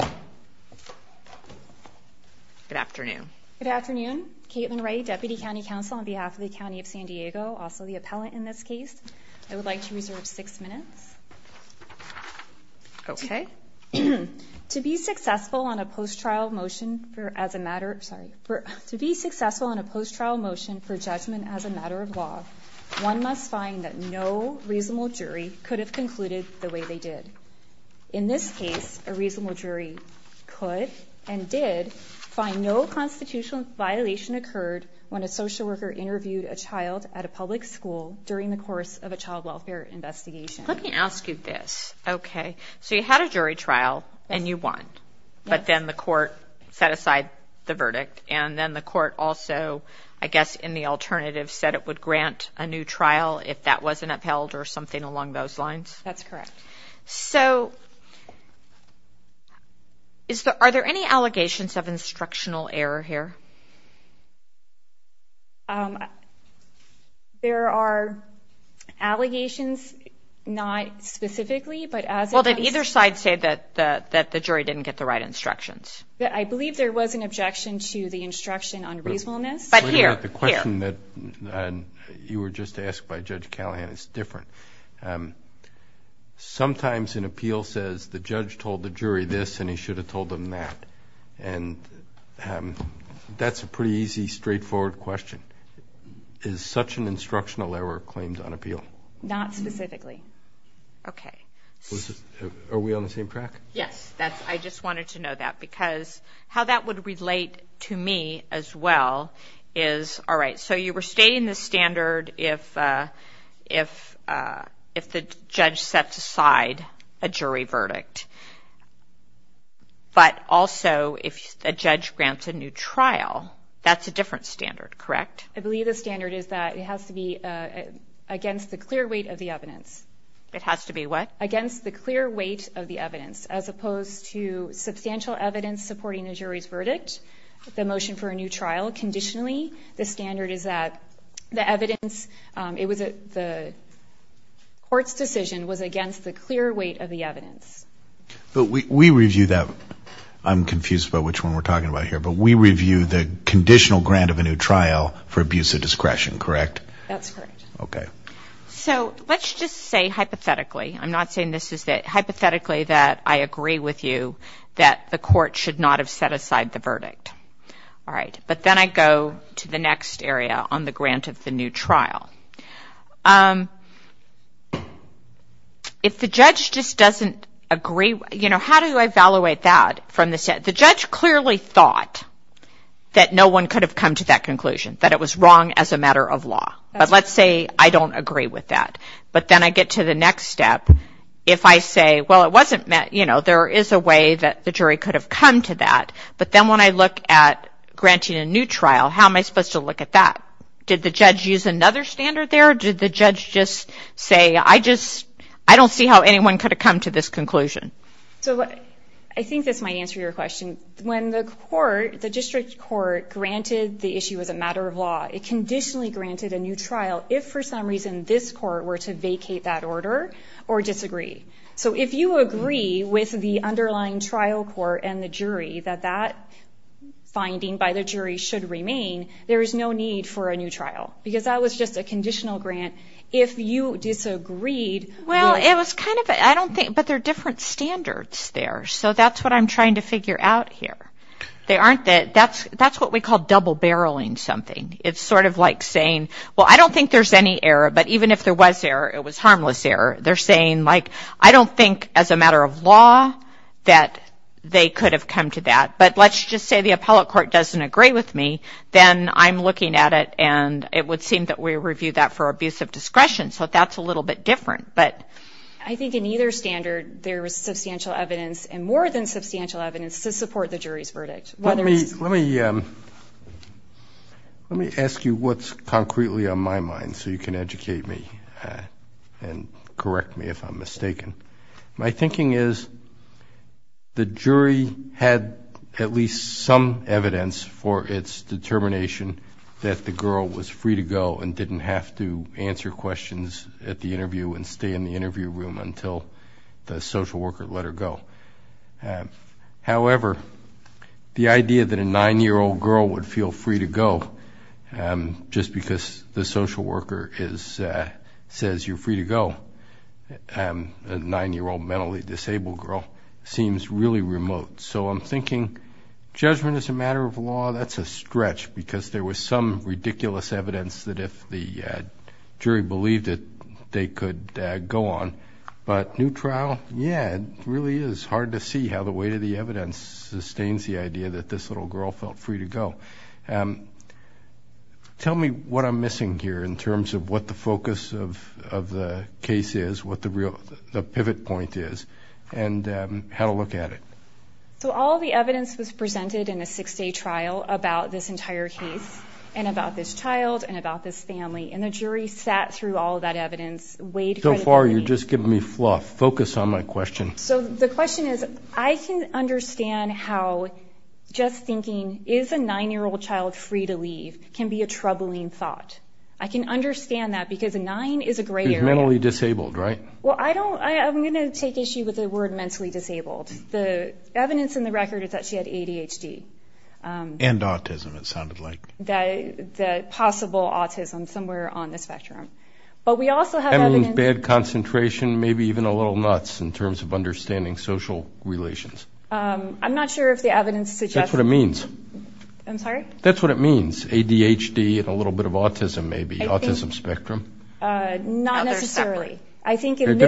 on behalf of the county of San Diego, also the appellant in this case. I would like to reserve six minutes. Okay. To be successful on a post-trial motion for as a matter of, sorry, to be successful on a post-trial motion for judgment as a matter of law, one must find that no reasonable jury could have concluded the way they did. In this case, a reasonable jury could and did find no constitutional violation occurred when a social worker interviewed a child at a public school during the course of a child welfare investigation. Let me ask you this. Okay. So you had a jury trial and you won, but then the court set aside the verdict and then the court also, I guess in the alternative, said it would grant a new trial if that wasn't upheld or something along those lines? That's correct. Okay. So are there any allegations of instructional error here? There are allegations, not specifically, but as it was... Well, did either side say that the jury didn't get the right instructions? I believe there was an objection to the instruction on reasonableness. The question that you were just asked by Judge Callahan is different. Sometimes an appeal says the judge told the jury this and he should have told them that. And that's a pretty easy, straightforward question. Is such an instructional error claimed on appeal? Not specifically. Okay. Are we on the same track? Yes. I just wanted to know that because how that would relate to me as well is, all right, so you were stating the standard if the judge sets aside a jury verdict, but also if a judge grants a new trial, that's a different standard, correct? I believe the standard is that it has to be against the clear weight of the evidence. It has to be what? Against the clear weight of the evidence, as opposed to substantial evidence supporting the jury's verdict. The motion for a new trial, conditionally, the standard is that the evidence, it was the court's decision was against the clear weight of the evidence. But we review that. I'm confused about which one we're talking about here, but we review the conditional grant of a new trial for abuse of discretion, correct? That's correct. Okay. So let's just say hypothetically, I'm not saying this is, hypothetically that I agree with you that the court should not have set aside the verdict. All right. But then I go to the next area on the grant of the new trial. If the judge just doesn't agree, you know, how do you evaluate that from the, the judge clearly thought that no one could have come to that conclusion, that it was wrong as a matter of law. But let's say I don't agree with that. But then I get to the next step. If I say, well, it wasn't, you know, there is a way that the jury could have come to that. But then when I look at granting a new trial, how am I supposed to look at that? Did the judge use another standard there? Did the judge just say, I just, I don't see how anyone could have come to this conclusion? So I think this might answer your question. When the court, the district court granted the issue as a matter of law, it conditionally granted a new trial if for some reason this court were to vacate that order or disagree. So if you agree with the underlying trial court and the jury that that finding by the jury should remain, there is no need for a new trial. Because that was just a conditional grant. If you disagreed. Well, it was kind of, I don't think, but there are different standards there. So that's what I'm trying to figure out here. They aren't, that's what we call double-barreling something. It's sort of like saying, well, I don't think there's any error. But even if there was error, it was harmless error. They're saying, like, I don't think as a matter of law that they could have come to that. But let's just say the appellate court doesn't agree with me. Then I'm looking at it and it would seem that we review that for abuse of discretion. So that's a little bit different. I think in either standard there is substantial evidence and more than substantial evidence to support the jury's verdict. Let me ask you what's concretely on my mind so you can educate me and correct me if I'm mistaken. My thinking is the jury had at least some evidence for its determination that the girl was free to go and didn't have to answer questions at the interview and stay in the interview room until the social worker let her go. However, the idea that a 9-year-old girl would feel free to go just because the social worker says you're free to go, a 9-year-old mentally disabled girl, seems really remote. So I'm thinking judgment as a matter of law, that's a stretch because there was some ridiculous evidence that if the jury believed it, they could go on. But new trial, yeah, it really is hard to see how the weight of the evidence sustains the idea that this little girl felt free to go. Tell me what I'm missing here in terms of what the focus of the case is, what the pivot point is, and how to look at it. So all the evidence was presented in a six-day trial about this entire case and about this child and about this family. And the jury sat through all of that evidence, weighed credibility. So far you're just giving me fluff. Focus on my question. So the question is, I can understand how just thinking, is a 9-year-old child free to leave, can be a troubling thought. I can understand that because a 9 is a gray area. She's mentally disabled, right? Well, I don't – I'm going to take issue with the word mentally disabled. The evidence in the record is that she had ADHD. And autism, it sounded like. The possible autism, somewhere on the spectrum. That means bad concentration, maybe even a little nuts in terms of understanding social relations. I'm not sure if the evidence suggests that. That's what it means. I'm sorry? That's what it means, ADHD and a little bit of autism, maybe. Autism spectrum? Not necessarily. I think in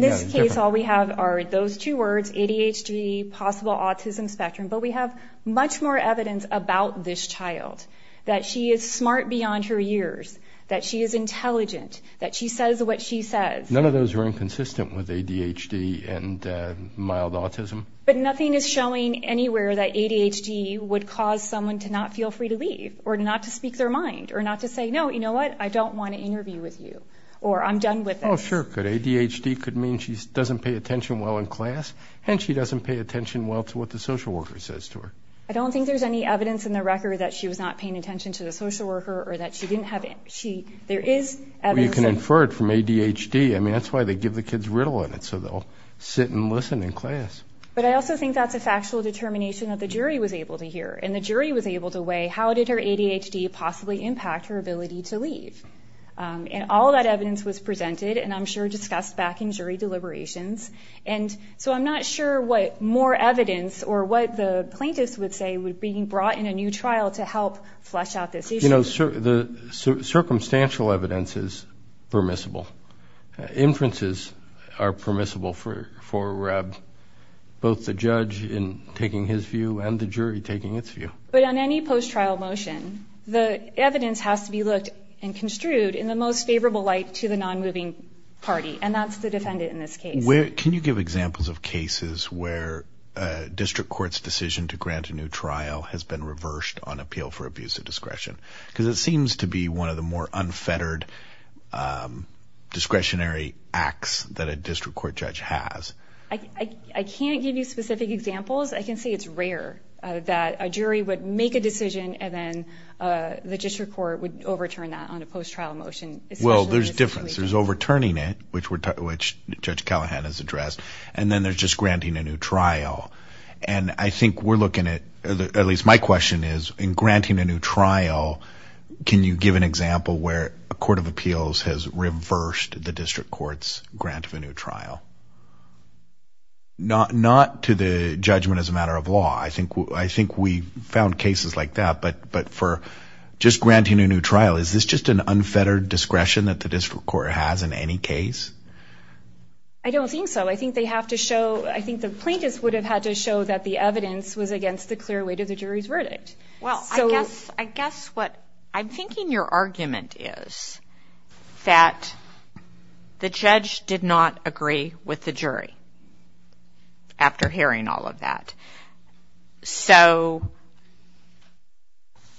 this case all we have are those two words, ADHD, possible autism spectrum. But we have much more evidence about this child. That she is smart beyond her years. That she is intelligent. That she says what she says. None of those are inconsistent with ADHD and mild autism. But nothing is showing anywhere that ADHD would cause someone to not feel free to leave. Or not to speak their mind. Or not to say, no, you know what, I don't want to interview with you. Or I'm done with this. Oh, sure. ADHD could mean she doesn't pay attention well in class. And she doesn't pay attention well to what the social worker says to her. I don't think there's any evidence in the record that she was not paying attention to the social worker. Or that she didn't have any. There is evidence. Well, you can infer it from ADHD. I mean, that's why they give the kids Riddle in it. So they'll sit and listen in class. But I also think that's a factual determination that the jury was able to hear. And the jury was able to weigh how did her ADHD possibly impact her ability to leave. And all that evidence was presented and I'm sure discussed back in jury deliberations. And so I'm not sure what more evidence or what the plaintiffs would say would be brought in a new trial to help flesh out this issue. You know, the circumstantial evidence is permissible. Inferences are permissible for both the judge in taking his view and the jury taking its view. But on any post-trial motion, the evidence has to be looked and construed in the most favorable light to the non-moving party. And that's the defendant in this case. Can you give examples of cases where district court's decision to grant a new trial has been reversed on appeal for abuse of discretion? Because it seems to be one of the more unfettered discretionary acts that a district court judge has. I can't give you specific examples. I can say it's rare that a jury would make a decision and then the district court would overturn that on a post-trial motion. Well, there's difference. There's overturning it, which Judge Callahan has addressed. And then there's just granting a new trial. And I think we're looking at, at least my question is, in granting a new trial, can you give an example where a court of appeals has reversed the district court's grant of a new trial? Not to the judgment as a matter of law. I think we found cases like that. But for just granting a new trial, is this just an unfettered discretion that the district court has in any case? I don't think so. I think they have to show, I think the plaintiffs would have had to show that the evidence was against the clear weight of the jury's verdict. Well, I guess what I'm thinking your argument is that the judge did not agree with the jury after hearing all of that. So,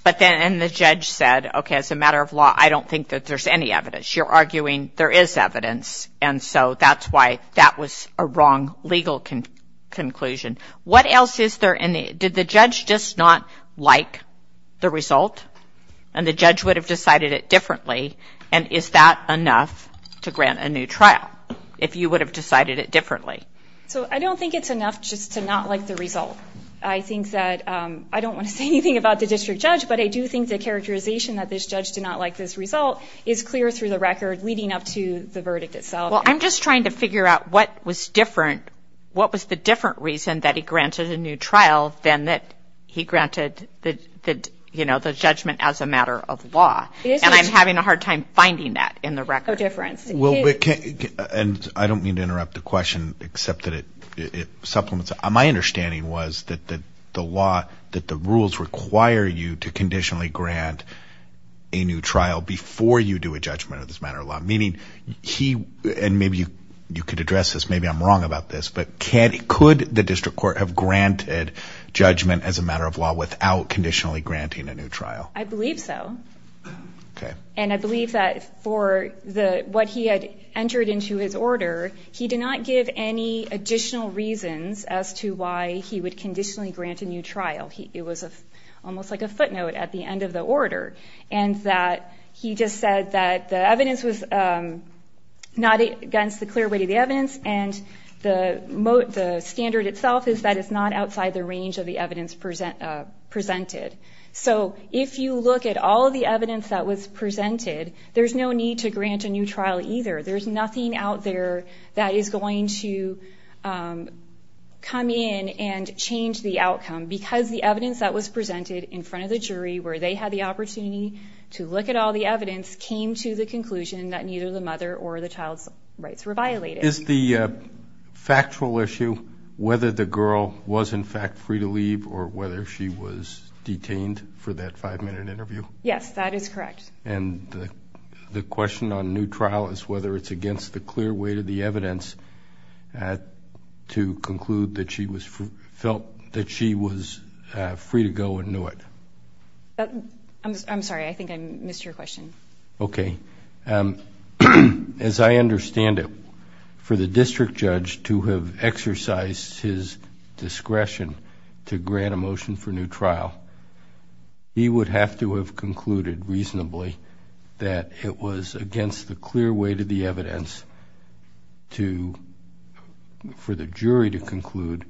but then the judge said, okay, as a matter of law, I don't think that there's any evidence. You're arguing there is evidence, and so that's why that was a wrong legal conclusion. What else is there? And did the judge just not like the result? And the judge would have decided it differently. And is that enough to grant a new trial, if you would have decided it differently? So I don't think it's enough just to not like the result. I think that, I don't want to say anything about the district judge, but I do think the characterization that this judge did not like this result is clear through the record leading up to the verdict itself. Well, I'm just trying to figure out what was different, what was the different reason that he granted a new trial than that he granted the judgment as a matter of law. And I'm having a hard time finding that in the record. And I don't mean to interrupt the question, except that it supplements. My understanding was that the law, that the rules require you to conditionally grant a new trial before you do a judgment as a matter of law. Meaning he, and maybe you could address this, maybe I'm wrong about this, but could the district court have granted judgment as a matter of law without conditionally granting a new trial? I believe so. Okay. And I believe that for what he had entered into his order, he did not give any additional reasons as to why he would conditionally grant a new trial. It was almost like a footnote at the end of the order. And that he just said that the evidence was not against the clear weight of the evidence and the standard itself is that it's not outside the range of the evidence presented. So if you look at all of the evidence that was presented, there's no need to grant a new trial either. There's nothing out there that is going to come in and change the outcome because the evidence that was presented in front of the jury where they had the opportunity to look at all the evidence came to the conclusion that neither the mother or the child's rights were violated. Is the factual issue whether the girl was in fact free to leave or whether she was detained for that five-minute interview? Yes, that is correct. And the question on new trial is whether it's against the clear weight of the evidence to conclude that she was free to go and knew it. I'm sorry, I think I missed your question. Okay. As I understand it, for the district judge to have exercised his discretion to grant a motion for new trial, he would have to have concluded reasonably that it was against the clear weight of the evidence for the jury to conclude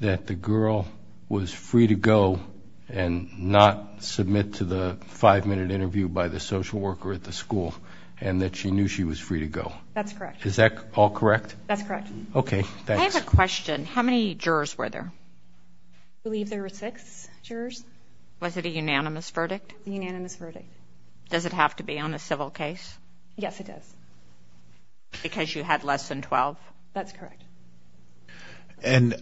that the girl was free to go and not submit to the five-minute interview by the social worker at the school and that she knew she was free to go. That's correct. Is that all correct? That's correct. Okay, thanks. I have a question. How many jurors were there? I believe there were six jurors. Was it a unanimous verdict? A unanimous verdict. Does it have to be on a civil case? Yes, it does. Because you had less than 12? That's correct. And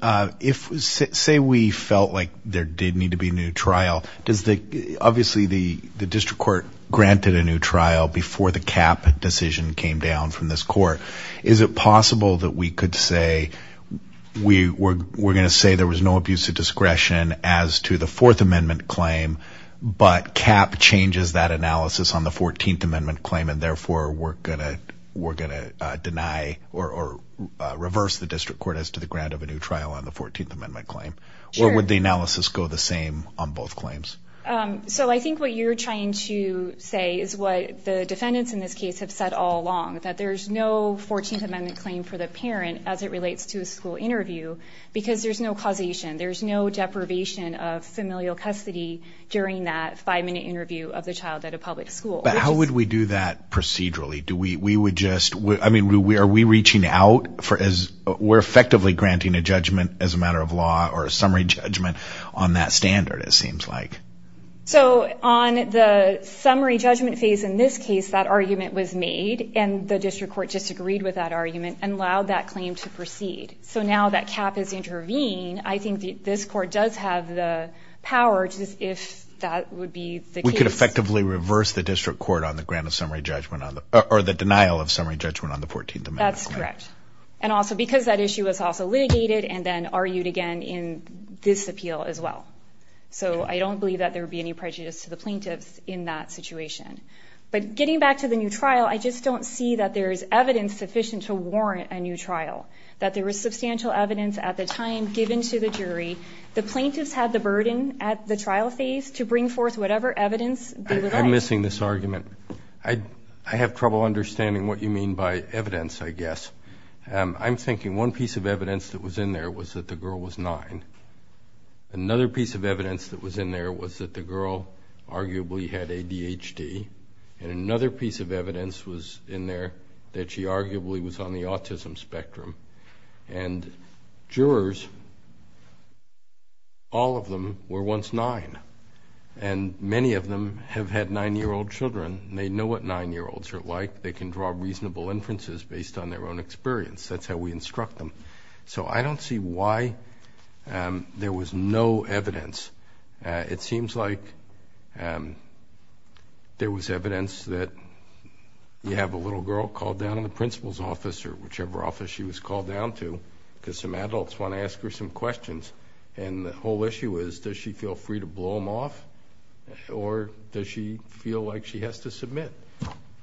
say we felt like there did need to be a new trial, obviously the district court granted a new trial before the CAP decision came down from this court. Is it possible that we could say we're going to say there was no abuse of discretion as to the Fourth Amendment claim, but CAP changes that analysis on the Fourteenth Amendment claim and therefore we're going to reverse the district court as to the grant of a new trial on the Fourteenth Amendment claim? Or would the analysis go the same on both claims? So I think what you're trying to say is what the defendants in this case have said all along, that there's no Fourteenth Amendment claim for the parent as it relates to a school interview because there's no causation. There's no deprivation of familial custody during that five-minute interview of the child at a public school. But how would we do that procedurally? Are we reaching out? We're effectively granting a judgment as a matter of law or a summary judgment on that standard, it seems like. So on the summary judgment phase in this case, that argument was made, and the district court disagreed with that argument and allowed that claim to proceed. So now that CAP has intervened, I think this court does have the power just if that would be the case. We could effectively reverse the district court on the denial of summary judgment on the Fourteenth Amendment claim. That's correct. And also because that issue was also litigated and then argued again in this appeal as well. So I don't believe that there would be any prejudice to the plaintiffs in that situation. But getting back to the new trial, I just don't see that there's evidence sufficient to warrant a new trial, that there was substantial evidence at the time given to the jury. The plaintiffs had the burden at the trial phase to bring forth whatever evidence they would like. I'm missing this argument. I have trouble understanding what you mean by evidence, I guess. I'm thinking one piece of evidence that was in there was that the girl was nine. Another piece of evidence that was in there was that the girl arguably had ADHD. And another piece of evidence was in there that she arguably was on the autism spectrum. And jurors, all of them, were once nine. And many of them have had nine-year-old children. They know what nine-year-olds are like. They can draw reasonable inferences based on their own experience. That's how we instruct them. So I don't see why there was no evidence. It seems like there was evidence that you have a little girl called down to the principal's office or whichever office she was called down to because some adults want to ask her some questions. And the whole issue is, does she feel free to blow them off, or does she feel like she has to submit?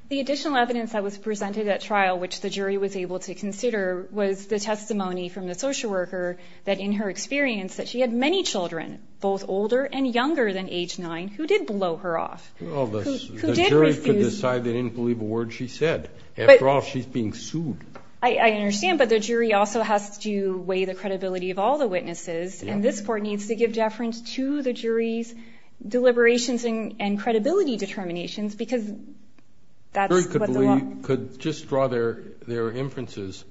The additional evidence that was presented at trial, which the jury was able to consider, was the testimony from the social worker that in her experience that she had many children, both older and younger than age nine, who did blow her off, who did refuse. The jury could decide they didn't believe a word she said. After all, she's being sued. I understand, but the jury also has to weigh the credibility of all the witnesses, and this Court needs to give deference to the jury's deliberations and credibility determinations because that's what the law… You could just draw their inferences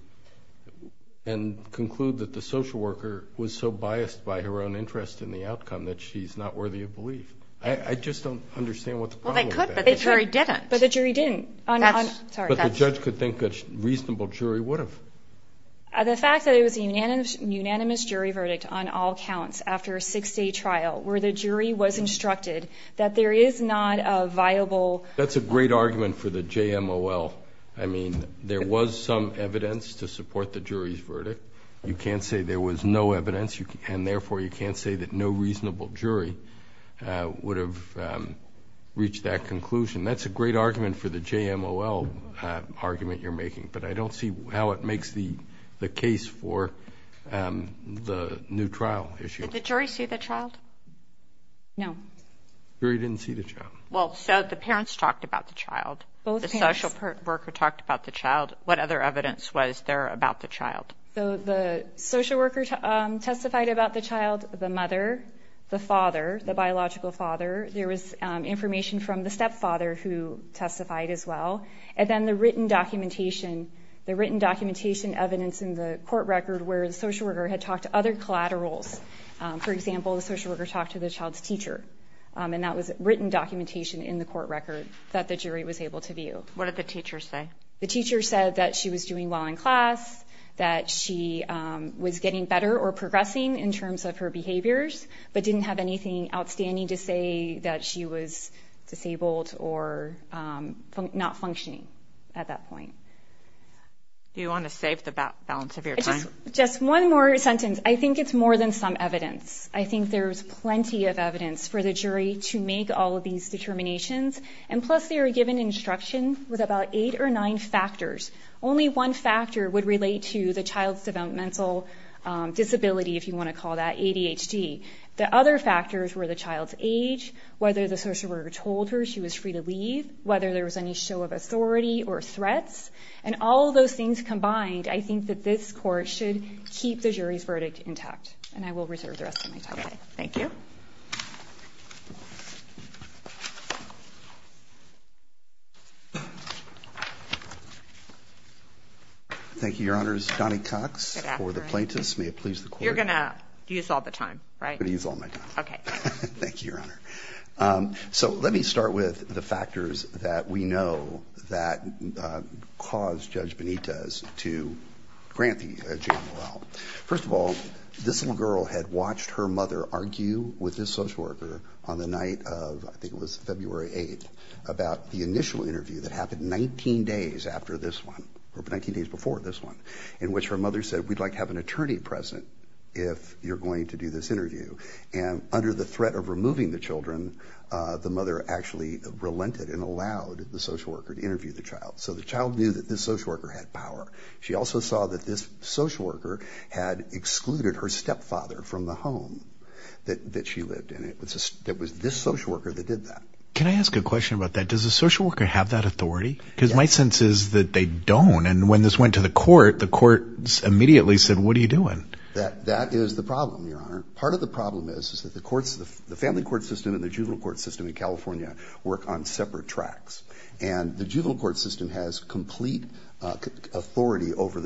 and conclude that the social worker was so biased by her own interest in the outcome that she's not worthy of belief. I just don't understand what the problem is. Well, they could, but the jury didn't. But the jury didn't. But the judge could think a reasonable jury would have. The fact that it was a unanimous jury verdict on all counts after a six-day trial where the jury was instructed that there is not a viable… That's a great argument for the JMOL. I mean, there was some evidence to support the jury's verdict. You can't say there was no evidence, and therefore you can't say that no reasonable jury would have reached that conclusion. That's a great argument for the JMOL argument you're making, but I don't see how it makes the case for the new trial issue. Did the jury see the child? No. The jury didn't see the child. Well, so the parents talked about the child. Both parents. The social worker talked about the child. What other evidence was there about the child? The social worker testified about the child, the mother, the father, the biological father. There was information from the stepfather who testified as well, and then the written documentation, the written documentation evidence in the court record where the social worker had talked to other collaterals. For example, the social worker talked to the child's teacher, and that was written documentation in the court record that the jury was able to view. What did the teacher say? The teacher said that she was doing well in class, that she was getting better or progressing in terms of her behaviors, but didn't have anything outstanding to say that she was disabled or not functioning at that point. Do you want to save the balance of your time? Just one more sentence. I think it's more than some evidence. I think there's plenty of evidence for the jury to make all of these determinations, and plus they were given instruction with about eight or nine factors. Only one factor would relate to the child's developmental disability, if you want to call that, ADHD. The other factors were the child's age, whether the social worker told her she was free to leave, whether there was any show of authority or threats. And all of those things combined, I think that this court should keep the jury's verdict intact, and I will reserve the rest of my time today. Thank you. Thank you, Your Honors. Donnie Cox for the plaintiffs. May it please the court. You're going to use all the time, right? I'm going to use all my time. Okay. Thank you, Your Honor. So let me start with the factors that we know that caused Judge Benitez to grant the JMLL. First of all, this little girl had watched her mother argue with this social worker on the night of, I think it was February 8th, about the initial interview that happened 19 days after this one, or 19 days before this one, in which her mother said, we'd like to have an attorney present if you're going to do this interview. And under the threat of removing the children, the mother actually relented and allowed the social worker to interview the child. So the child knew that this social worker had power. She also saw that this social worker had excluded her stepfather from the home that she lived in. It was this social worker that did that. Can I ask a question about that? Does the social worker have that authority? Because my sense is that they don't, and when this went to the court, That is the problem, Your Honor. Part of the problem is that the family court system and the juvenile court system in California work on separate tracks. And the juvenile court system has complete authority over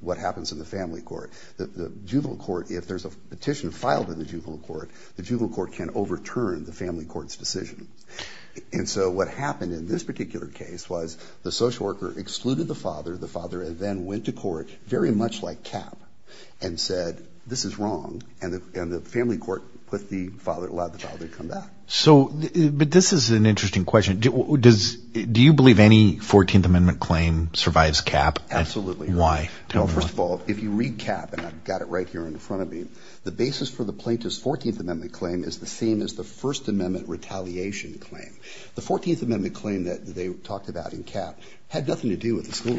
what happens in the family court. The juvenile court, if there's a petition filed in the juvenile court, the juvenile court can overturn the family court's decision. And so what happened in this particular case was the social worker excluded the father. And then went to court, very much like CAP, and said, this is wrong. And the family court allowed the father to come back. But this is an interesting question. Do you believe any 14th Amendment claim survives CAP? Absolutely. Why? First of all, if you read CAP, and I've got it right here in front of me, the basis for the plaintiff's 14th Amendment claim is the same as the First Amendment retaliation claim. The 14th Amendment claim that they talked about in CAP had nothing to do with the school.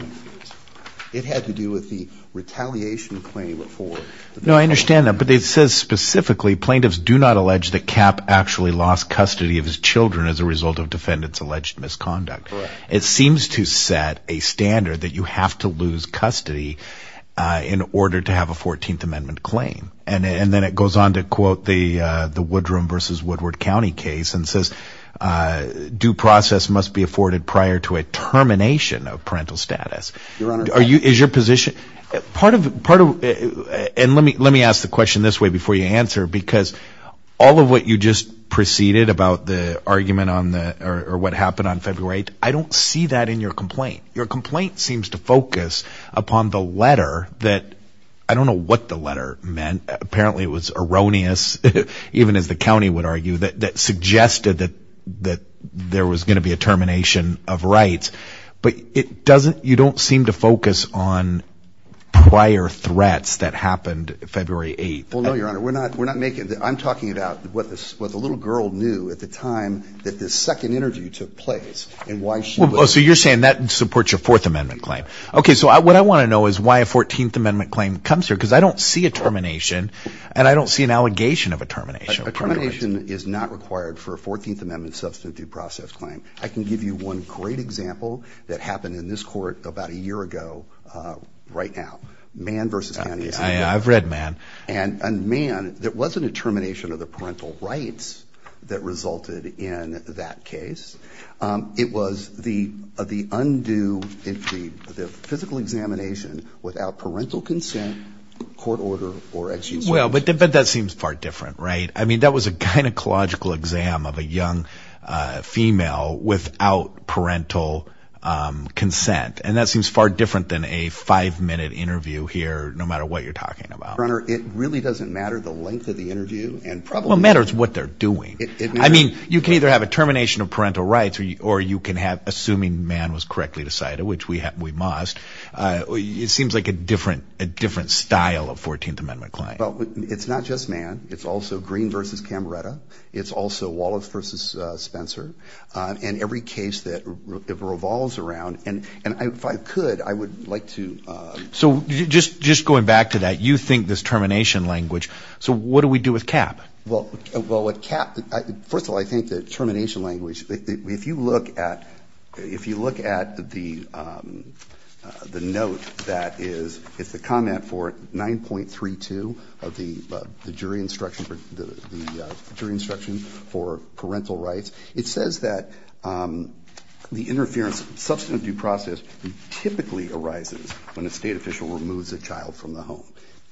It had to do with the retaliation claim before. No, I understand that, but it says specifically, plaintiffs do not allege that CAP actually lost custody of his children as a result of defendants' alleged misconduct. It seems to set a standard that you have to lose custody in order to have a 14th Amendment claim. And then it goes on to quote the Woodroom v. Woodward County case and says, due process must be afforded prior to a termination of parental status. Your Honor. Is your position, part of, and let me ask the question this way before you answer, because all of what you just preceded about the argument on the, or what happened on February 8th, I don't see that in your complaint. Your complaint seems to focus upon the letter that, I don't know what the letter meant. Apparently it was erroneous, even as the county would argue, that suggested that there was going to be a termination of rights. But it doesn't, you don't seem to focus on prior threats that happened February 8th. Well, no, Your Honor. We're not making, I'm talking about what the little girl knew at the time that this second interview took place and why she was. Oh, so you're saying that supports your 4th Amendment claim. Okay, so what I want to know is why a 14th Amendment claim comes here, because I don't see a termination and I don't see an allegation of a termination. A termination is not required for a 14th Amendment substantive due process claim. I can give you one great example that happened in this court about a year ago right now. Mann v. County. I've read Mann. And Mann, there wasn't a termination of the parental rights that resulted in that case. It was the undue, the physical examination without parental consent, court order, or execution. Well, but that seems far different, right? I mean, that was a gynecological exam of a young female without parental consent. And that seems far different than a five-minute interview here, no matter what you're talking about. Your Honor, it really doesn't matter the length of the interview. Well, it matters what they're doing. I mean, you can either have a termination of parental rights or you can have assuming Mann was correctly decided, which we must. It seems like a different style of 14th Amendment claim. Well, it's not just Mann. It's also Green v. Camaretta. It's also Wallace v. Spencer. And every case that revolves around, and if I could, I would like to. So just going back to that, you think this termination language. So what do we do with Kapp? Well, with Kapp, first of all, I think the termination language, if you look at the note that is the comment for 9.32 of the jury instruction for parental rights, it says that the interference substantive due process typically arises when a state official removes a child from the home,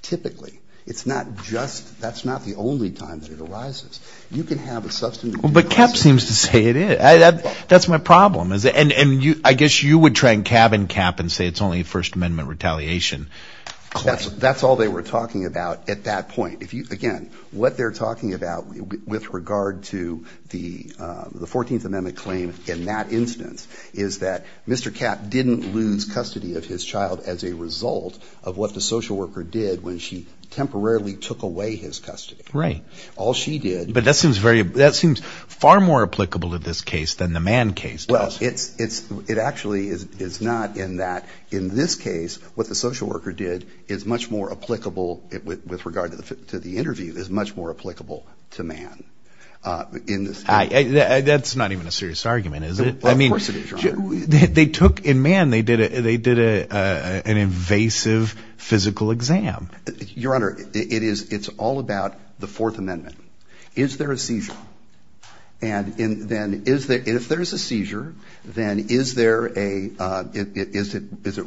typically. It's not just, that's not the only time that it arises. You can have a substantive due process. But Kapp seems to say it is. That's my problem. And I guess you would try and cabin Kapp and say it's only First Amendment retaliation. That's all they were talking about at that point. Again, what they're talking about with regard to the 14th Amendment claim in that instance is that Mr. Kapp didn't lose custody of his child as a result of what the social worker did when she temporarily took away his custody. Right. All she did. But that seems far more applicable in this case than the Mann case does. Well, it actually is not in that. In this case, what the social worker did is much more applicable with regard to the interview, is much more applicable to Mann. That's not even a serious argument, is it? Of course it is, Your Honor. In Mann, they did an invasive physical exam. Your Honor, it's all about the Fourth Amendment. Is there a seizure? And if there's a seizure, then is it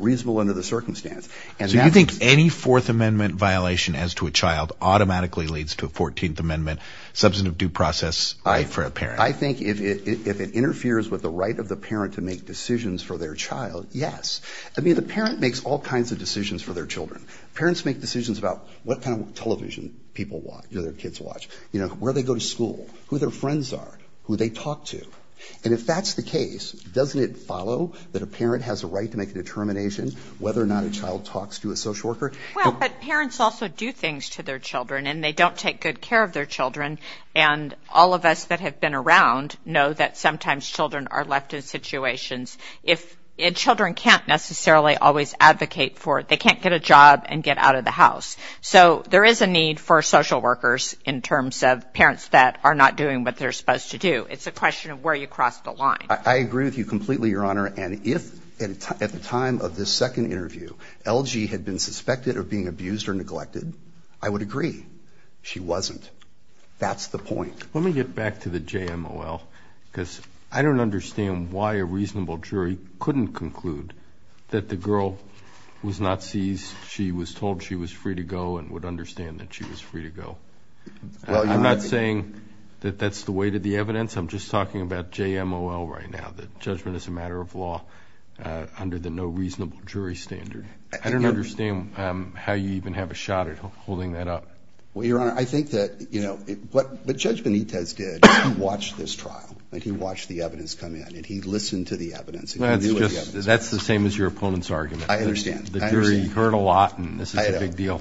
reasonable under the circumstance? So you think any Fourth Amendment violation as to a child automatically leads to a 14th Amendment substantive due process right for a parent? I think if it interferes with the right of the parent to make decisions for their child, yes. I mean, the parent makes all kinds of decisions for their children. Parents make decisions about what kind of television people watch, their kids watch, where they go to school, who their friends are, who they talk to. And if that's the case, doesn't it follow that a parent has a right to make a determination whether or not a child talks to a social worker? Well, but parents also do things to their children, and they don't take good care of their children. And all of us that have been around know that sometimes children are left in situations if children can't necessarily always advocate for it. They can't get a job and get out of the house. So there is a need for social workers in terms of parents that are not doing what they're supposed to do. It's a question of where you cross the line. I agree with you completely, Your Honor. And if at the time of this second interview LG had been suspected of being abused or neglected, I would agree she wasn't. That's the point. Let me get back to the JMOL because I don't understand why a reasonable jury couldn't conclude that the girl was not seized, she was told she was free to go, and would understand that she was free to go. I'm not saying that that's the weight of the evidence. I'm just talking about JMOL right now, that judgment is a matter of law under the no reasonable jury standard. I don't understand how you even have a shot at holding that up. Well, Your Honor, I think that what Judge Benitez did, he watched this trial. He watched the evidence come in and he listened to the evidence. That's the same as your opponent's argument. I understand. The jury heard a lot and this is a big deal.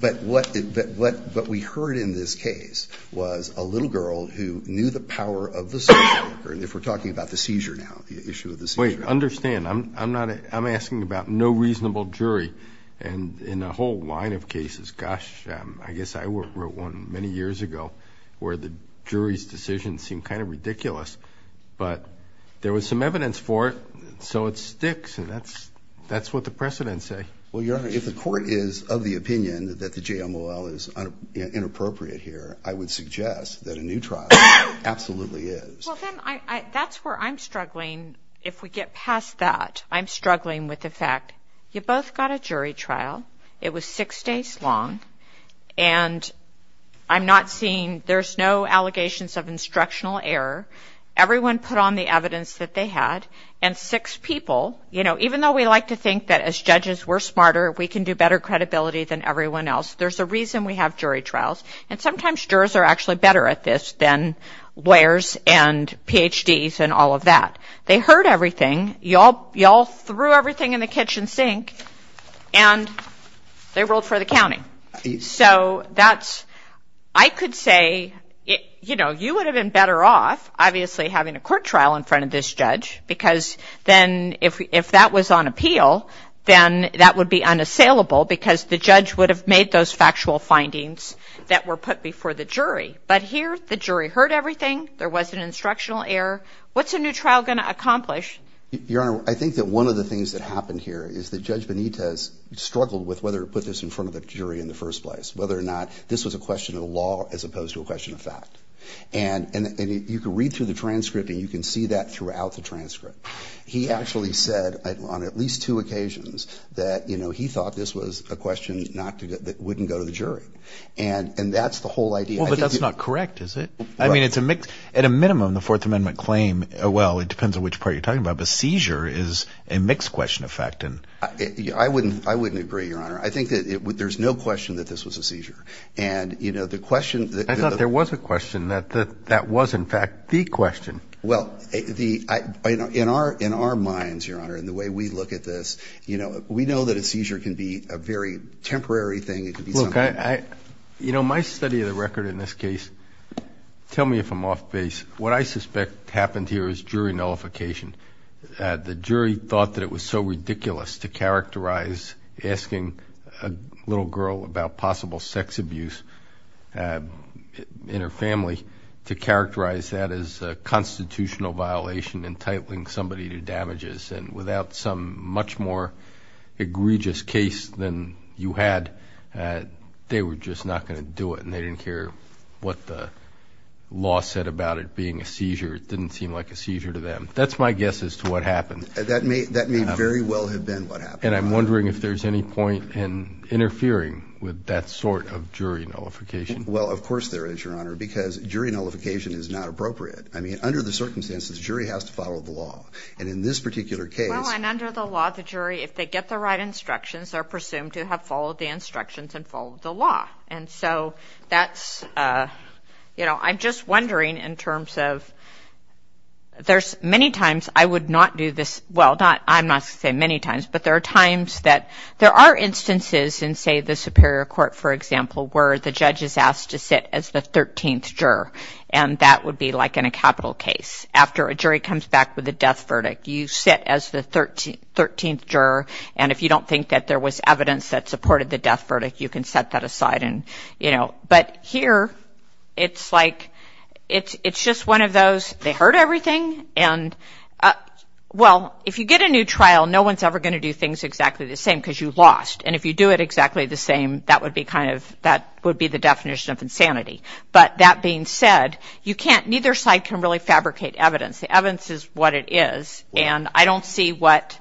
But what we heard in this case was a little girl who knew the power of the social worker, and if we're talking about the seizure now, the issue of the seizure. Wait, understand, I'm asking about no reasonable jury. And in a whole line of cases, gosh, I guess I wrote one many years ago, where the jury's decision seemed kind of ridiculous, but there was some evidence for it, so it sticks and that's what the precedents say. Well, Your Honor, if the court is of the opinion that the JMOL is inappropriate here, I would suggest that a new trial absolutely is. Well, then that's where I'm struggling if we get past that. I'm struggling with the fact you both got a jury trial, it was six days long, and I'm not seeing, there's no allegations of instructional error. Everyone put on the evidence that they had, and six people, you know, even though we like to think that as judges we're smarter, we can do better credibility than everyone else, there's a reason we have jury trials. And sometimes jurors are actually better at this than lawyers and PhDs and all of that. They heard everything. You all threw everything in the kitchen sink, and they rolled for the county. So that's, I could say, you know, you would have been better off, obviously, having a court trial in front of this judge, because then if that was on appeal, then that would be unassailable, because the judge would have made those factual findings that were put before the jury. But here, the jury heard everything, there wasn't instructional error. What's a new trial going to accomplish? Your Honor, I think that one of the things that happened here is that Judge Benitez struggled with whether to put this in front of the jury in the first place, whether or not this was a question of law as opposed to a question of fact. And you can read through the transcript, and you can see that throughout the transcript. He actually said on at least two occasions that, you know, he thought this was a question that wouldn't go to the jury. And that's the whole idea. Well, but that's not correct, is it? I mean, it's a mix. At a minimum, the Fourth Amendment claim, well, it depends on which part you're talking about, but seizure is a mixed question of fact. I wouldn't agree, Your Honor. I think that there's no question that this was a seizure. And, you know, the question that the – I thought there was a question that that was, in fact, the question. Well, in our minds, Your Honor, and the way we look at this, you know, we know that a seizure can be a very temporary thing. Look, you know, my study of the record in this case, tell me if I'm off base. What I suspect happened here is jury nullification. The jury thought that it was so ridiculous to characterize asking a little girl about possible sex abuse in her family, to characterize that as a constitutional violation, and without some much more egregious case than you had, they were just not going to do it, and they didn't care what the law said about it being a seizure. It didn't seem like a seizure to them. That's my guess as to what happened. That may very well have been what happened. And I'm wondering if there's any point in interfering with that sort of jury nullification. Well, of course there is, Your Honor, because jury nullification is not appropriate. I mean, under the circumstances, jury has to follow the law. And in this particular case. Well, and under the law, the jury, if they get the right instructions, are presumed to have followed the instructions and followed the law. And so that's, you know, I'm just wondering in terms of there's many times I would not do this. Well, I'm not saying many times, but there are times that there are instances in, say, the Superior Court, for example, where the judge is asked to sit as the 13th juror. And that would be like in a capital case. After a jury comes back with a death verdict, you sit as the 13th juror, and if you don't think that there was evidence that supported the death verdict, you can set that aside. But here, it's like it's just one of those, they heard everything. And, well, if you get a new trial, no one's ever going to do things exactly the same because you lost. And if you do it exactly the same, that would be kind of, that would be the definition of insanity. But that being said, you can't, neither side can really fabricate evidence. The evidence is what it is. And I don't see what,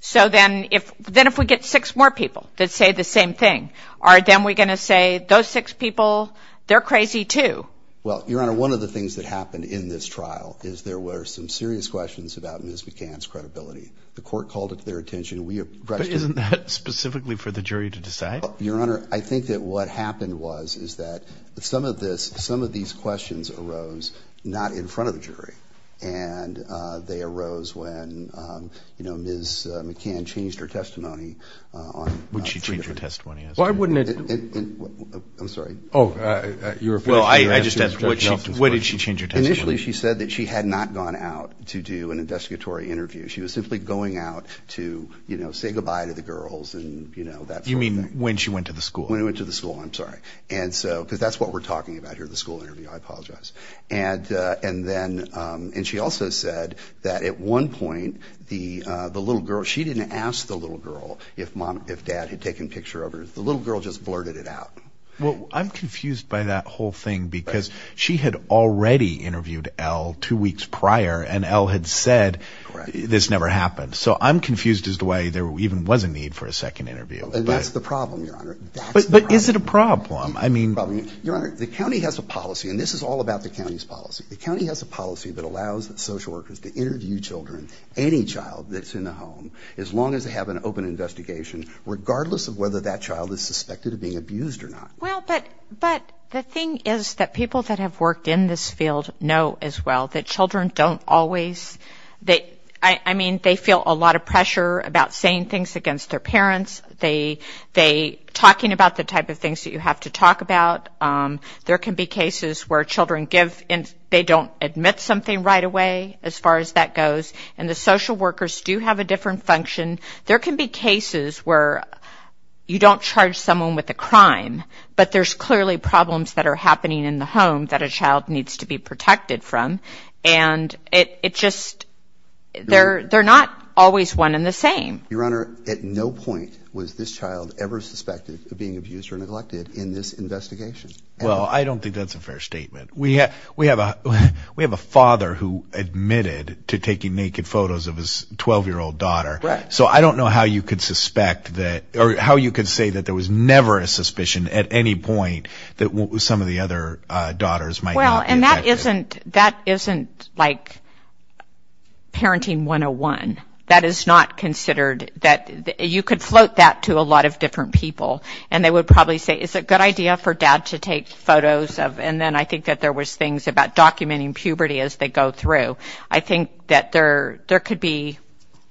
so then if we get six more people that say the same thing, are then we going to say those six people, they're crazy too? Well, Your Honor, one of the things that happened in this trial is there were some serious questions about Ms. McCann's credibility. The court called it to their attention. But isn't that specifically for the jury to decide? Your Honor, I think that what happened was is that some of this, some of these questions arose not in front of the jury. And they arose when, you know, Ms. McCann changed her testimony. When she changed her testimony? Why wouldn't it? I'm sorry. Oh, you were finished. Well, I just asked, when did she change her testimony? Initially, she said that she had not gone out to do an investigatory interview. She was simply going out to, you know, say goodbye to the girls and, you know, that sort of thing. You mean when she went to the school? When she went to the school, I'm sorry. And so, because that's what we're talking about here, the school interview. I apologize. And then, and she also said that at one point the little girl, she didn't ask the little girl if mom, if dad had taken a picture of her. The little girl just blurted it out. Well, I'm confused by that whole thing because she had already interviewed Elle two weeks prior and Elle had said this never happened. So, I'm confused as to why there even was a need for a second interview. And that's the problem, Your Honor. But is it a problem? I mean. Your Honor, the county has a policy, and this is all about the county's policy. The county has a policy that allows social workers to interview children, any child that's in the home, as long as they have an open investigation, regardless of whether that child is suspected of being abused or not. Well, but the thing is that people that have worked in this field know as well that children don't always, I mean, they feel a lot of pressure about saying things against their parents. They, talking about the type of things that you have to talk about. There can be cases where children give, they don't admit something right away, as far as that goes. And the social workers do have a different function. There can be cases where you don't charge someone with a crime, but there's clearly problems that are happening in the home that a child needs to be protected from. And it just, they're not always one and the same. Your Honor, at no point was this child ever suspected of being abused or neglected in this investigation. Well, I don't think that's a fair statement. We have a father who admitted to taking naked photos of his 12-year-old daughter. Right. So I don't know how you could suspect that, or how you could say that there was never a suspicion at any point that some of the other daughters might have. Well, and that isn't, that isn't like Parenting 101. That is not considered, you could float that to a lot of different people, and they would probably say, is it a good idea for dad to take photos of, and then I think that there was things about documenting puberty as they go through. I think that there could be.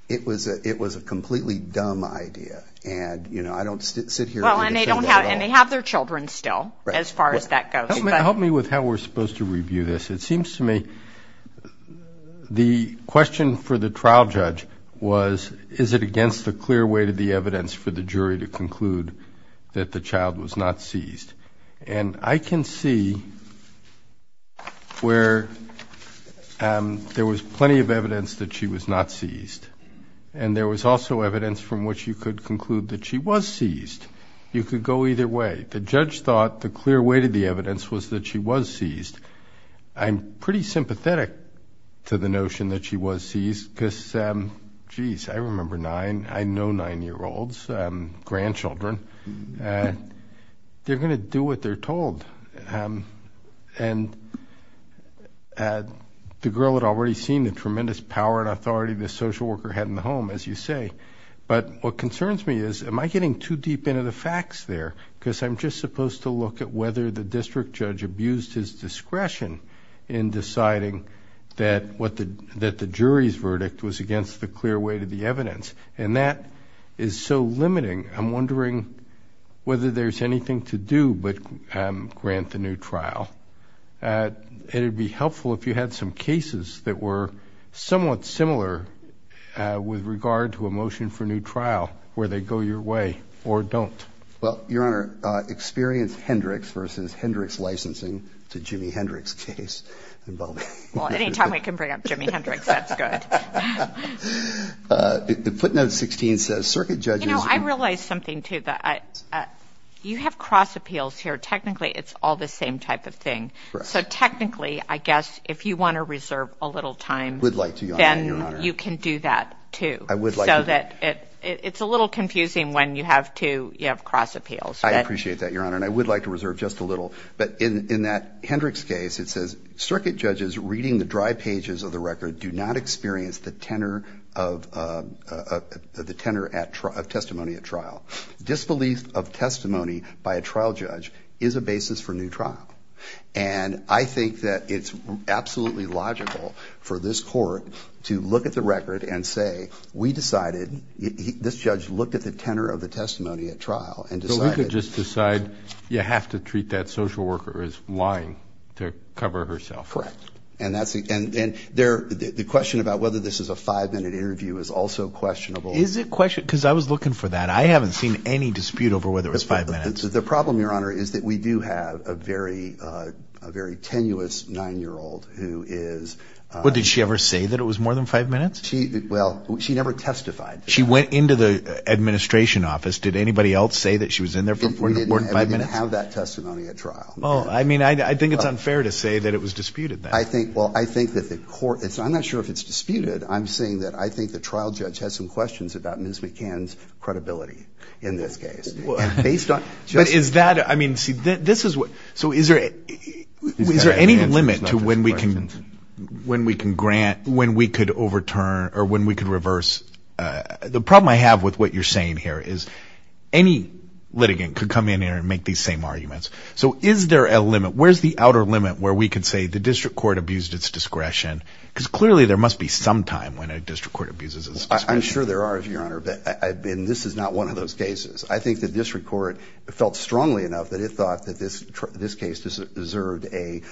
It was a completely dumb idea. And, you know, I don't sit here. Well, and they don't have, and they have their children still, as far as that goes. Help me with how we're supposed to review this. It seems to me the question for the trial judge was, is it against the clear weight of the evidence for the jury to conclude that the child was not seized? And I can see where there was plenty of evidence that she was not seized, and there was also evidence from which you could conclude that she was seized. You could go either way. The judge thought the clear weight of the evidence was that she was seized. I'm pretty sympathetic to the notion that she was seized because, jeez, I remember nine. I know nine-year-olds, grandchildren. They're going to do what they're told. And the girl had already seen the tremendous power and authority this social worker had in the home, as you say. But what concerns me is, am I getting too deep into the facts there? Because I'm just supposed to look at whether the district judge abused his discretion in deciding that the jury's verdict was against the clear weight of the evidence. And that is so limiting. I'm wondering whether there's anything to do but grant the new trial. It would be helpful if you had some cases that were somewhat similar with regard to a motion for new trial, where they go your way or don't. Well, Your Honor, experience Hendricks versus Hendricks licensing to Jimi Hendricks case. Well, any time we can bring up Jimi Hendricks, that's good. The footnote 16 says, circuit judges. You know, I realize something, too. You have cross appeals here. Technically, it's all the same type of thing. So technically, I guess, if you want to reserve a little time. Would like to, Your Honor. Then you can do that, too. I would like to. So that it's a little confusing when you have two cross appeals. I appreciate that, Your Honor. And I would like to reserve just a little. But in that Hendricks case, it says, circuit judges reading the dry pages of the record do not experience the tenor of testimony at trial. Disbelief of testimony by a trial judge is a basis for new trial. And I think that it's absolutely logical for this court to look at the record and say, we decided. This judge looked at the tenor of the testimony at trial and decided. You have to treat that social worker as lying to cover herself. Correct. And the question about whether this is a five-minute interview is also questionable. Is it questionable? Because I was looking for that. I haven't seen any dispute over whether it was five minutes. The problem, Your Honor, is that we do have a very tenuous 9-year-old who is. Well, did she ever say that it was more than five minutes? Well, she never testified. She went into the administration office. Did anybody else say that she was in there for more than five minutes? We didn't have that testimony at trial. Oh, I mean, I think it's unfair to say that it was disputed then. Well, I think that the court is. I'm not sure if it's disputed. I'm saying that I think the trial judge has some questions about Ms. McCann's credibility in this case. Based on. But is that. I mean, see, this is what. So is there any limit to when we can grant, when we could overturn or when we could reverse. The problem I have with what you're saying here is any litigant could come in here and make these same arguments. So is there a limit? Where's the outer limit where we could say the district court abused its discretion? Because clearly there must be some time when a district court abuses its discretion. I'm sure there are, Your Honor. And this is not one of those cases. I think the district court felt strongly enough that it thought that this case deserved a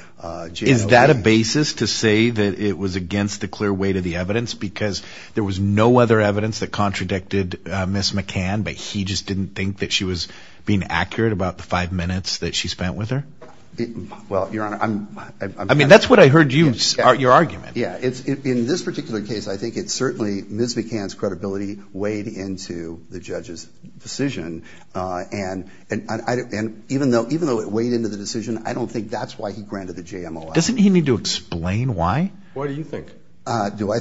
jail. Is that a basis to say that it was against the clear weight of the evidence? Because there was no other evidence that contradicted Ms. McCann. But he just didn't think that she was being accurate about the five minutes that she spent with her. Well, Your Honor, I'm. I mean, that's what I heard you are your argument. Yeah, it's in this particular case. I think it's certainly Ms. McCann's credibility weighed into the judge's decision. And even though it weighed into the decision, I don't think that's why he granted the JMOL. Doesn't he need to explain why? What do you think? Do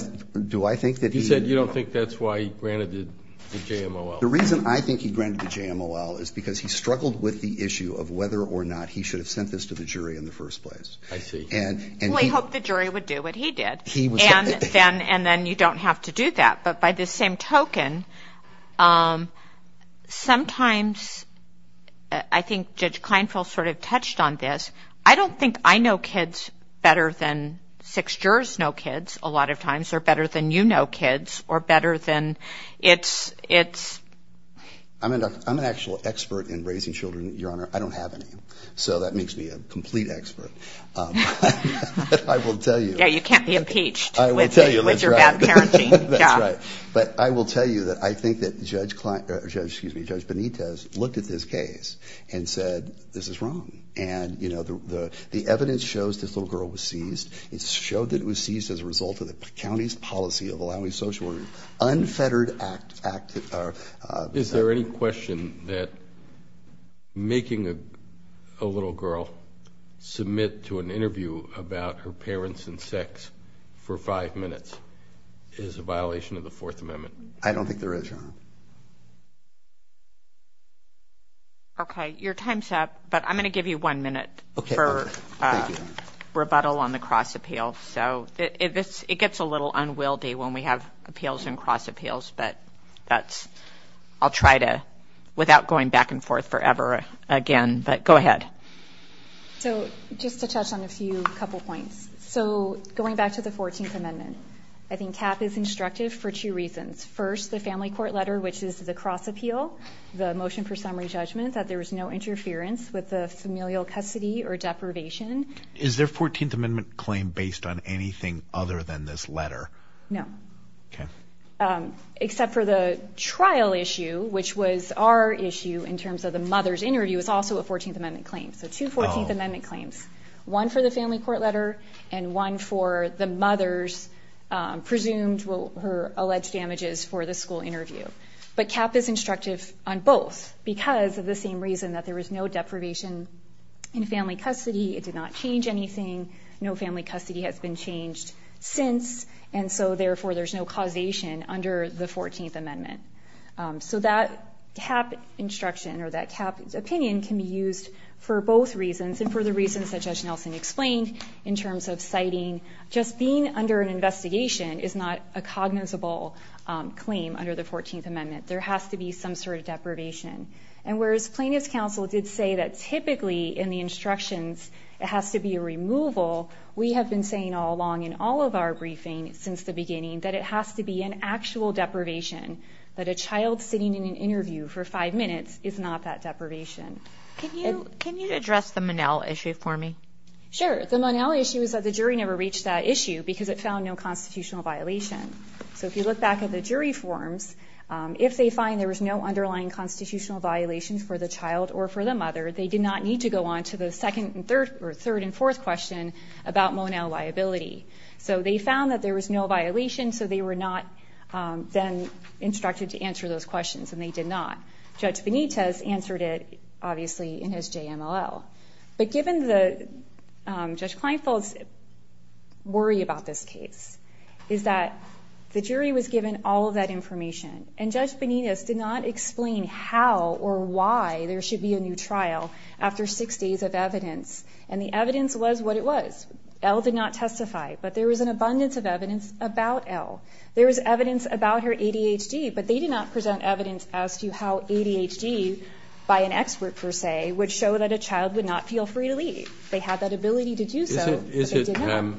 I think that he. You said you don't think that's why he granted the JMOL. The reason I think he granted the JMOL is because he struggled with the issue of whether or not he should have sent this to the jury in the first place. I see. And he. Well, he hoped the jury would do what he did. He was. And then you don't have to do that. But by the same token, sometimes I think Judge Kleinfeld sort of touched on this. I don't think I know kids better than six jurors know kids a lot of times or better than you know kids or better than it's. I'm an actual expert in raising children, Your Honor. I don't have any. So that makes me a complete expert. I will tell you. Yeah, you can't be impeached. I will tell you. With your bad parenting. That's right. But I will tell you that I think that Judge Benitez looked at this case and said this is wrong. And, you know, the evidence shows this little girl was seized. It showed that it was seized as a result of the county's policy of allowing social order. Unfettered act. Is there any question that making a little girl submit to an interview about her parents and sex for five minutes is a violation of the Fourth Amendment? I don't think there is, Your Honor. Okay. Your time's up. But I'm going to give you one minute for rebuttal on the cross appeal. It gets a little unwieldy when we have appeals and cross appeals, but I'll try to without going back and forth forever again. But go ahead. So just to touch on a few couple points. So going back to the 14th Amendment, I think CAP is instructive for two reasons. First, the family court letter, which is the cross appeal, the motion for summary judgment, that there is no interference with the familial custody or deprivation. Is there a 14th Amendment claim based on anything other than this letter? No. Okay. Except for the trial issue, which was our issue in terms of the mother's interview, is also a 14th Amendment claim. So two 14th Amendment claims, one for the family court letter and one for the mother's presumed or alleged damages for the school interview. But CAP is instructive on both because of the same reason that there was no deprivation in family custody. It did not change anything. No family custody has been changed since, and so therefore there's no causation under the 14th Amendment. So that CAP instruction or that CAP opinion can be used for both reasons and for the reasons that Judge Nelson explained in terms of citing just being under an investigation is not a cognizable claim under the 14th Amendment. There has to be some sort of deprivation. And whereas plaintiff's counsel did say that typically in the instructions it has to be a removal, we have been saying all along in all of our briefings since the beginning that it has to be an actual deprivation, that a child sitting in an interview for five minutes is not that deprivation. Can you address the Monell issue for me? Sure. The Monell issue is that the jury never reached that issue because it found no constitutional violation. So if you look back at the jury forms, if they find there was no underlying constitutional violation for the child or for the mother, they did not need to go on to the second and third or third and fourth question about Monell liability. So they found that there was no violation, so they were not then instructed to answer those questions, and they did not. Judge Benitez answered it, obviously, in his JMLL. But given Judge Kleinfeld's worry about this case is that the jury was given all of that information, and Judge Benitez did not explain how or why there should be a new trial after six days of evidence, and the evidence was what it was. Elle did not testify, but there was an abundance of evidence about Elle. There was evidence about her ADHD, but they did not present evidence as to how ADHD by an expert, per se, would show that a child would not feel free to leave. They had that ability to do so, but they did not.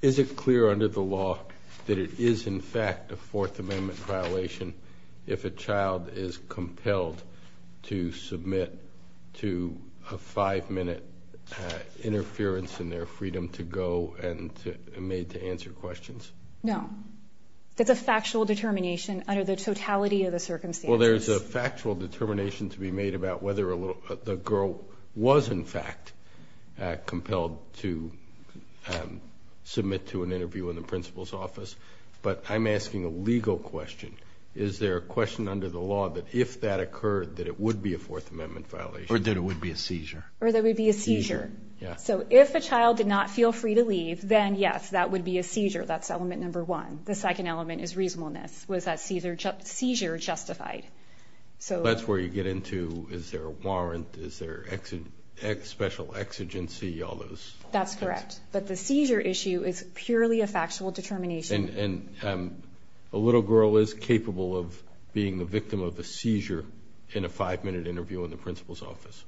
Is it clear under the law that it is, in fact, a Fourth Amendment violation if a child is compelled to submit to a five-minute interference in their freedom to go and made to answer questions? No. That's a factual determination under the totality of the circumstances. Well, there's a factual determination to be made about whether the girl was, in fact, compelled to submit to an interview in the principal's office. But I'm asking a legal question. Is there a question under the law that if that occurred, that it would be a Fourth Amendment violation? Or that it would be a seizure. Or that it would be a seizure. So if a child did not feel free to leave, then, yes, that would be a seizure. That's element number one. The second element is reasonableness. Was that seizure justified? That's where you get into is there a warrant, is there special exigency, all those things. That's correct. But the seizure issue is purely a factual determination. And a little girl is capable of being the victim of a seizure in a five-minute interview in the principal's office?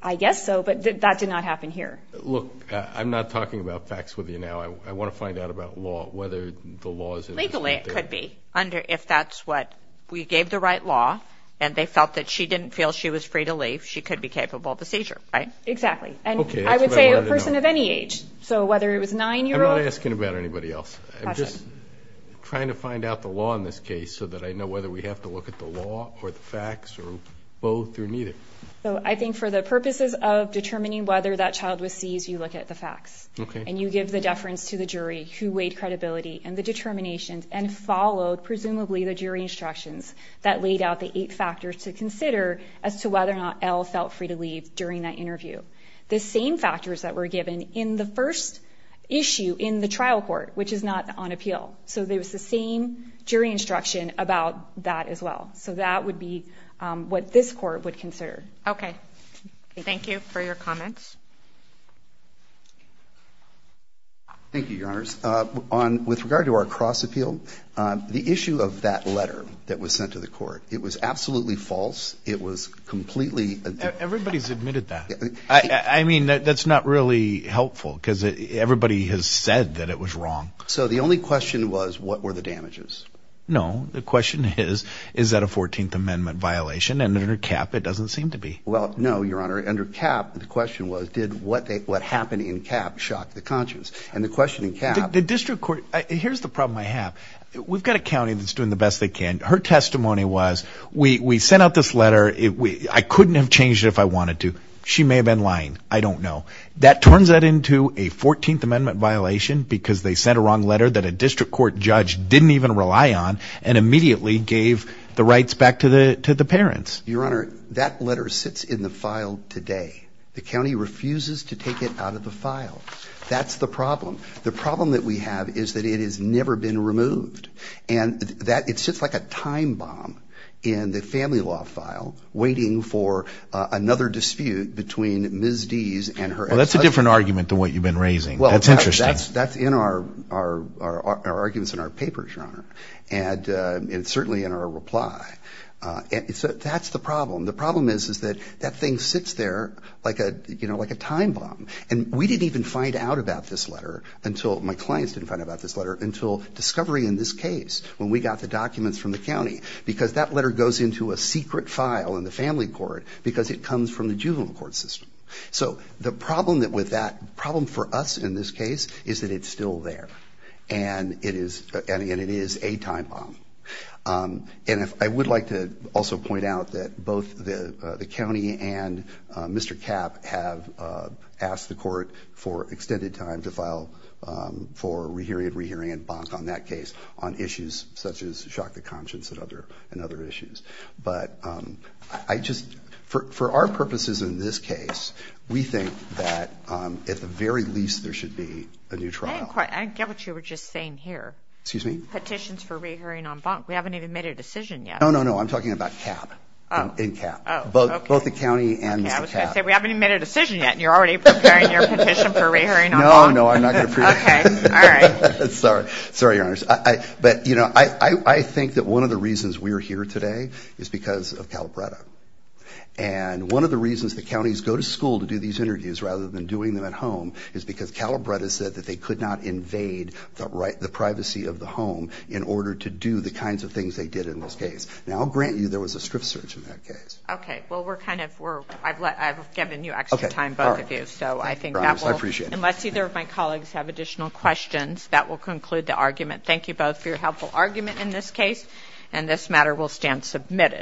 I guess so. But that did not happen here. Look, I'm not talking about facts with you now. I want to find out about law, whether the law is in effect there. Legally, it could be, if that's what we gave the right law, and they felt that she didn't feel she was free to leave, she could be capable of a seizure, right? Exactly. And I would say a person of any age. So whether it was a nine-year-old. I'm not asking about anybody else. I'm just trying to find out the law in this case so that I know whether we have to look at the law or the facts or both or neither. So I think for the purposes of determining whether that child was seized, you look at the facts. And you give the deference to the jury who weighed credibility and the determinations and followed, presumably, the jury instructions that laid out the eight factors to consider as to whether or not Elle felt free to leave during that interview. The same factors that were given in the first issue in the trial court, which is not on appeal. So there was the same jury instruction about that as well. So that would be what this court would consider. Okay. Thank you for your comments. Thank you, Your Honors. With regard to our cross-appeal, the issue of that letter that was sent to the court, it was absolutely false. It was completely. Everybody's admitted that. I mean, that's not really helpful because everybody has said that it was wrong. So the only question was, what were the damages? No. The question is, is that a 14th Amendment violation? And under CAP, it doesn't seem to be. Well, no, Your Honor. Under CAP, the question was, did what happened in CAP shock the conscience? And the question in CAP. The district court. Here's the problem I have. We've got a county that's doing the best they can. Her testimony was, we sent out this letter. I couldn't have changed it if I wanted to. She may have been lying. I don't know. That turns that into a 14th Amendment violation because they sent a wrong letter that a district court judge didn't even rely on and immediately gave the rights back to the parents. Your Honor, that letter sits in the file today. The county refuses to take it out of the file. That's the problem. The problem that we have is that it has never been removed. And it sits like a time bomb in the family law file waiting for another dispute between Ms. Dees and her ex-husband. Well, that's a different argument than what you've been raising. That's interesting. That's in our arguments in our papers, Your Honor. And it's certainly in our reply. That's the problem. The problem is that that thing sits there like a time bomb. And we didn't even find out about this letter until my clients didn't find out about this letter until discovery in this case when we got the documents from the county because that letter goes into a secret file in the family court because it comes from the juvenile court system. So the problem for us in this case is that it's still there. And it is a time bomb. And I would like to also point out that both the county and Mr. Kapp have asked the court for extended time to file for re-hearing and re-hearing and bonk on that case on issues such as shock to conscience and other issues. But I just, for our purposes in this case, we think that at the very least there should be a new trial. I didn't quite get what you were just saying here. Excuse me? Petitions for re-hearing on bonk. We haven't even made a decision yet. No, no, no. I'm talking about Kapp. And Kapp. Oh, okay. Both the county and Mr. Kapp. Okay. I was going to say we haven't even made a decision yet and you're already preparing your petition for re-hearing on bonk. No, no. I'm not going to preach. Okay. All right. Sorry. Sorry, Your Honor. But, you know, I think that one of the reasons we are here today is because of Calabretta. And one of the reasons the counties go to school to do these interviews rather than doing them at home is because Calabretta said that they could not invade the privacy of the home in order to do the kinds of things they did in this case. Now, I'll grant you there was a strip search in that case. Okay. Well, we're kind of, we're, I've given you extra time, both of you. So I think that will, unless either of my colleagues have additional questions, that will conclude the argument. Thank you both for your helpful argument in this case. And this matter will stand submitted.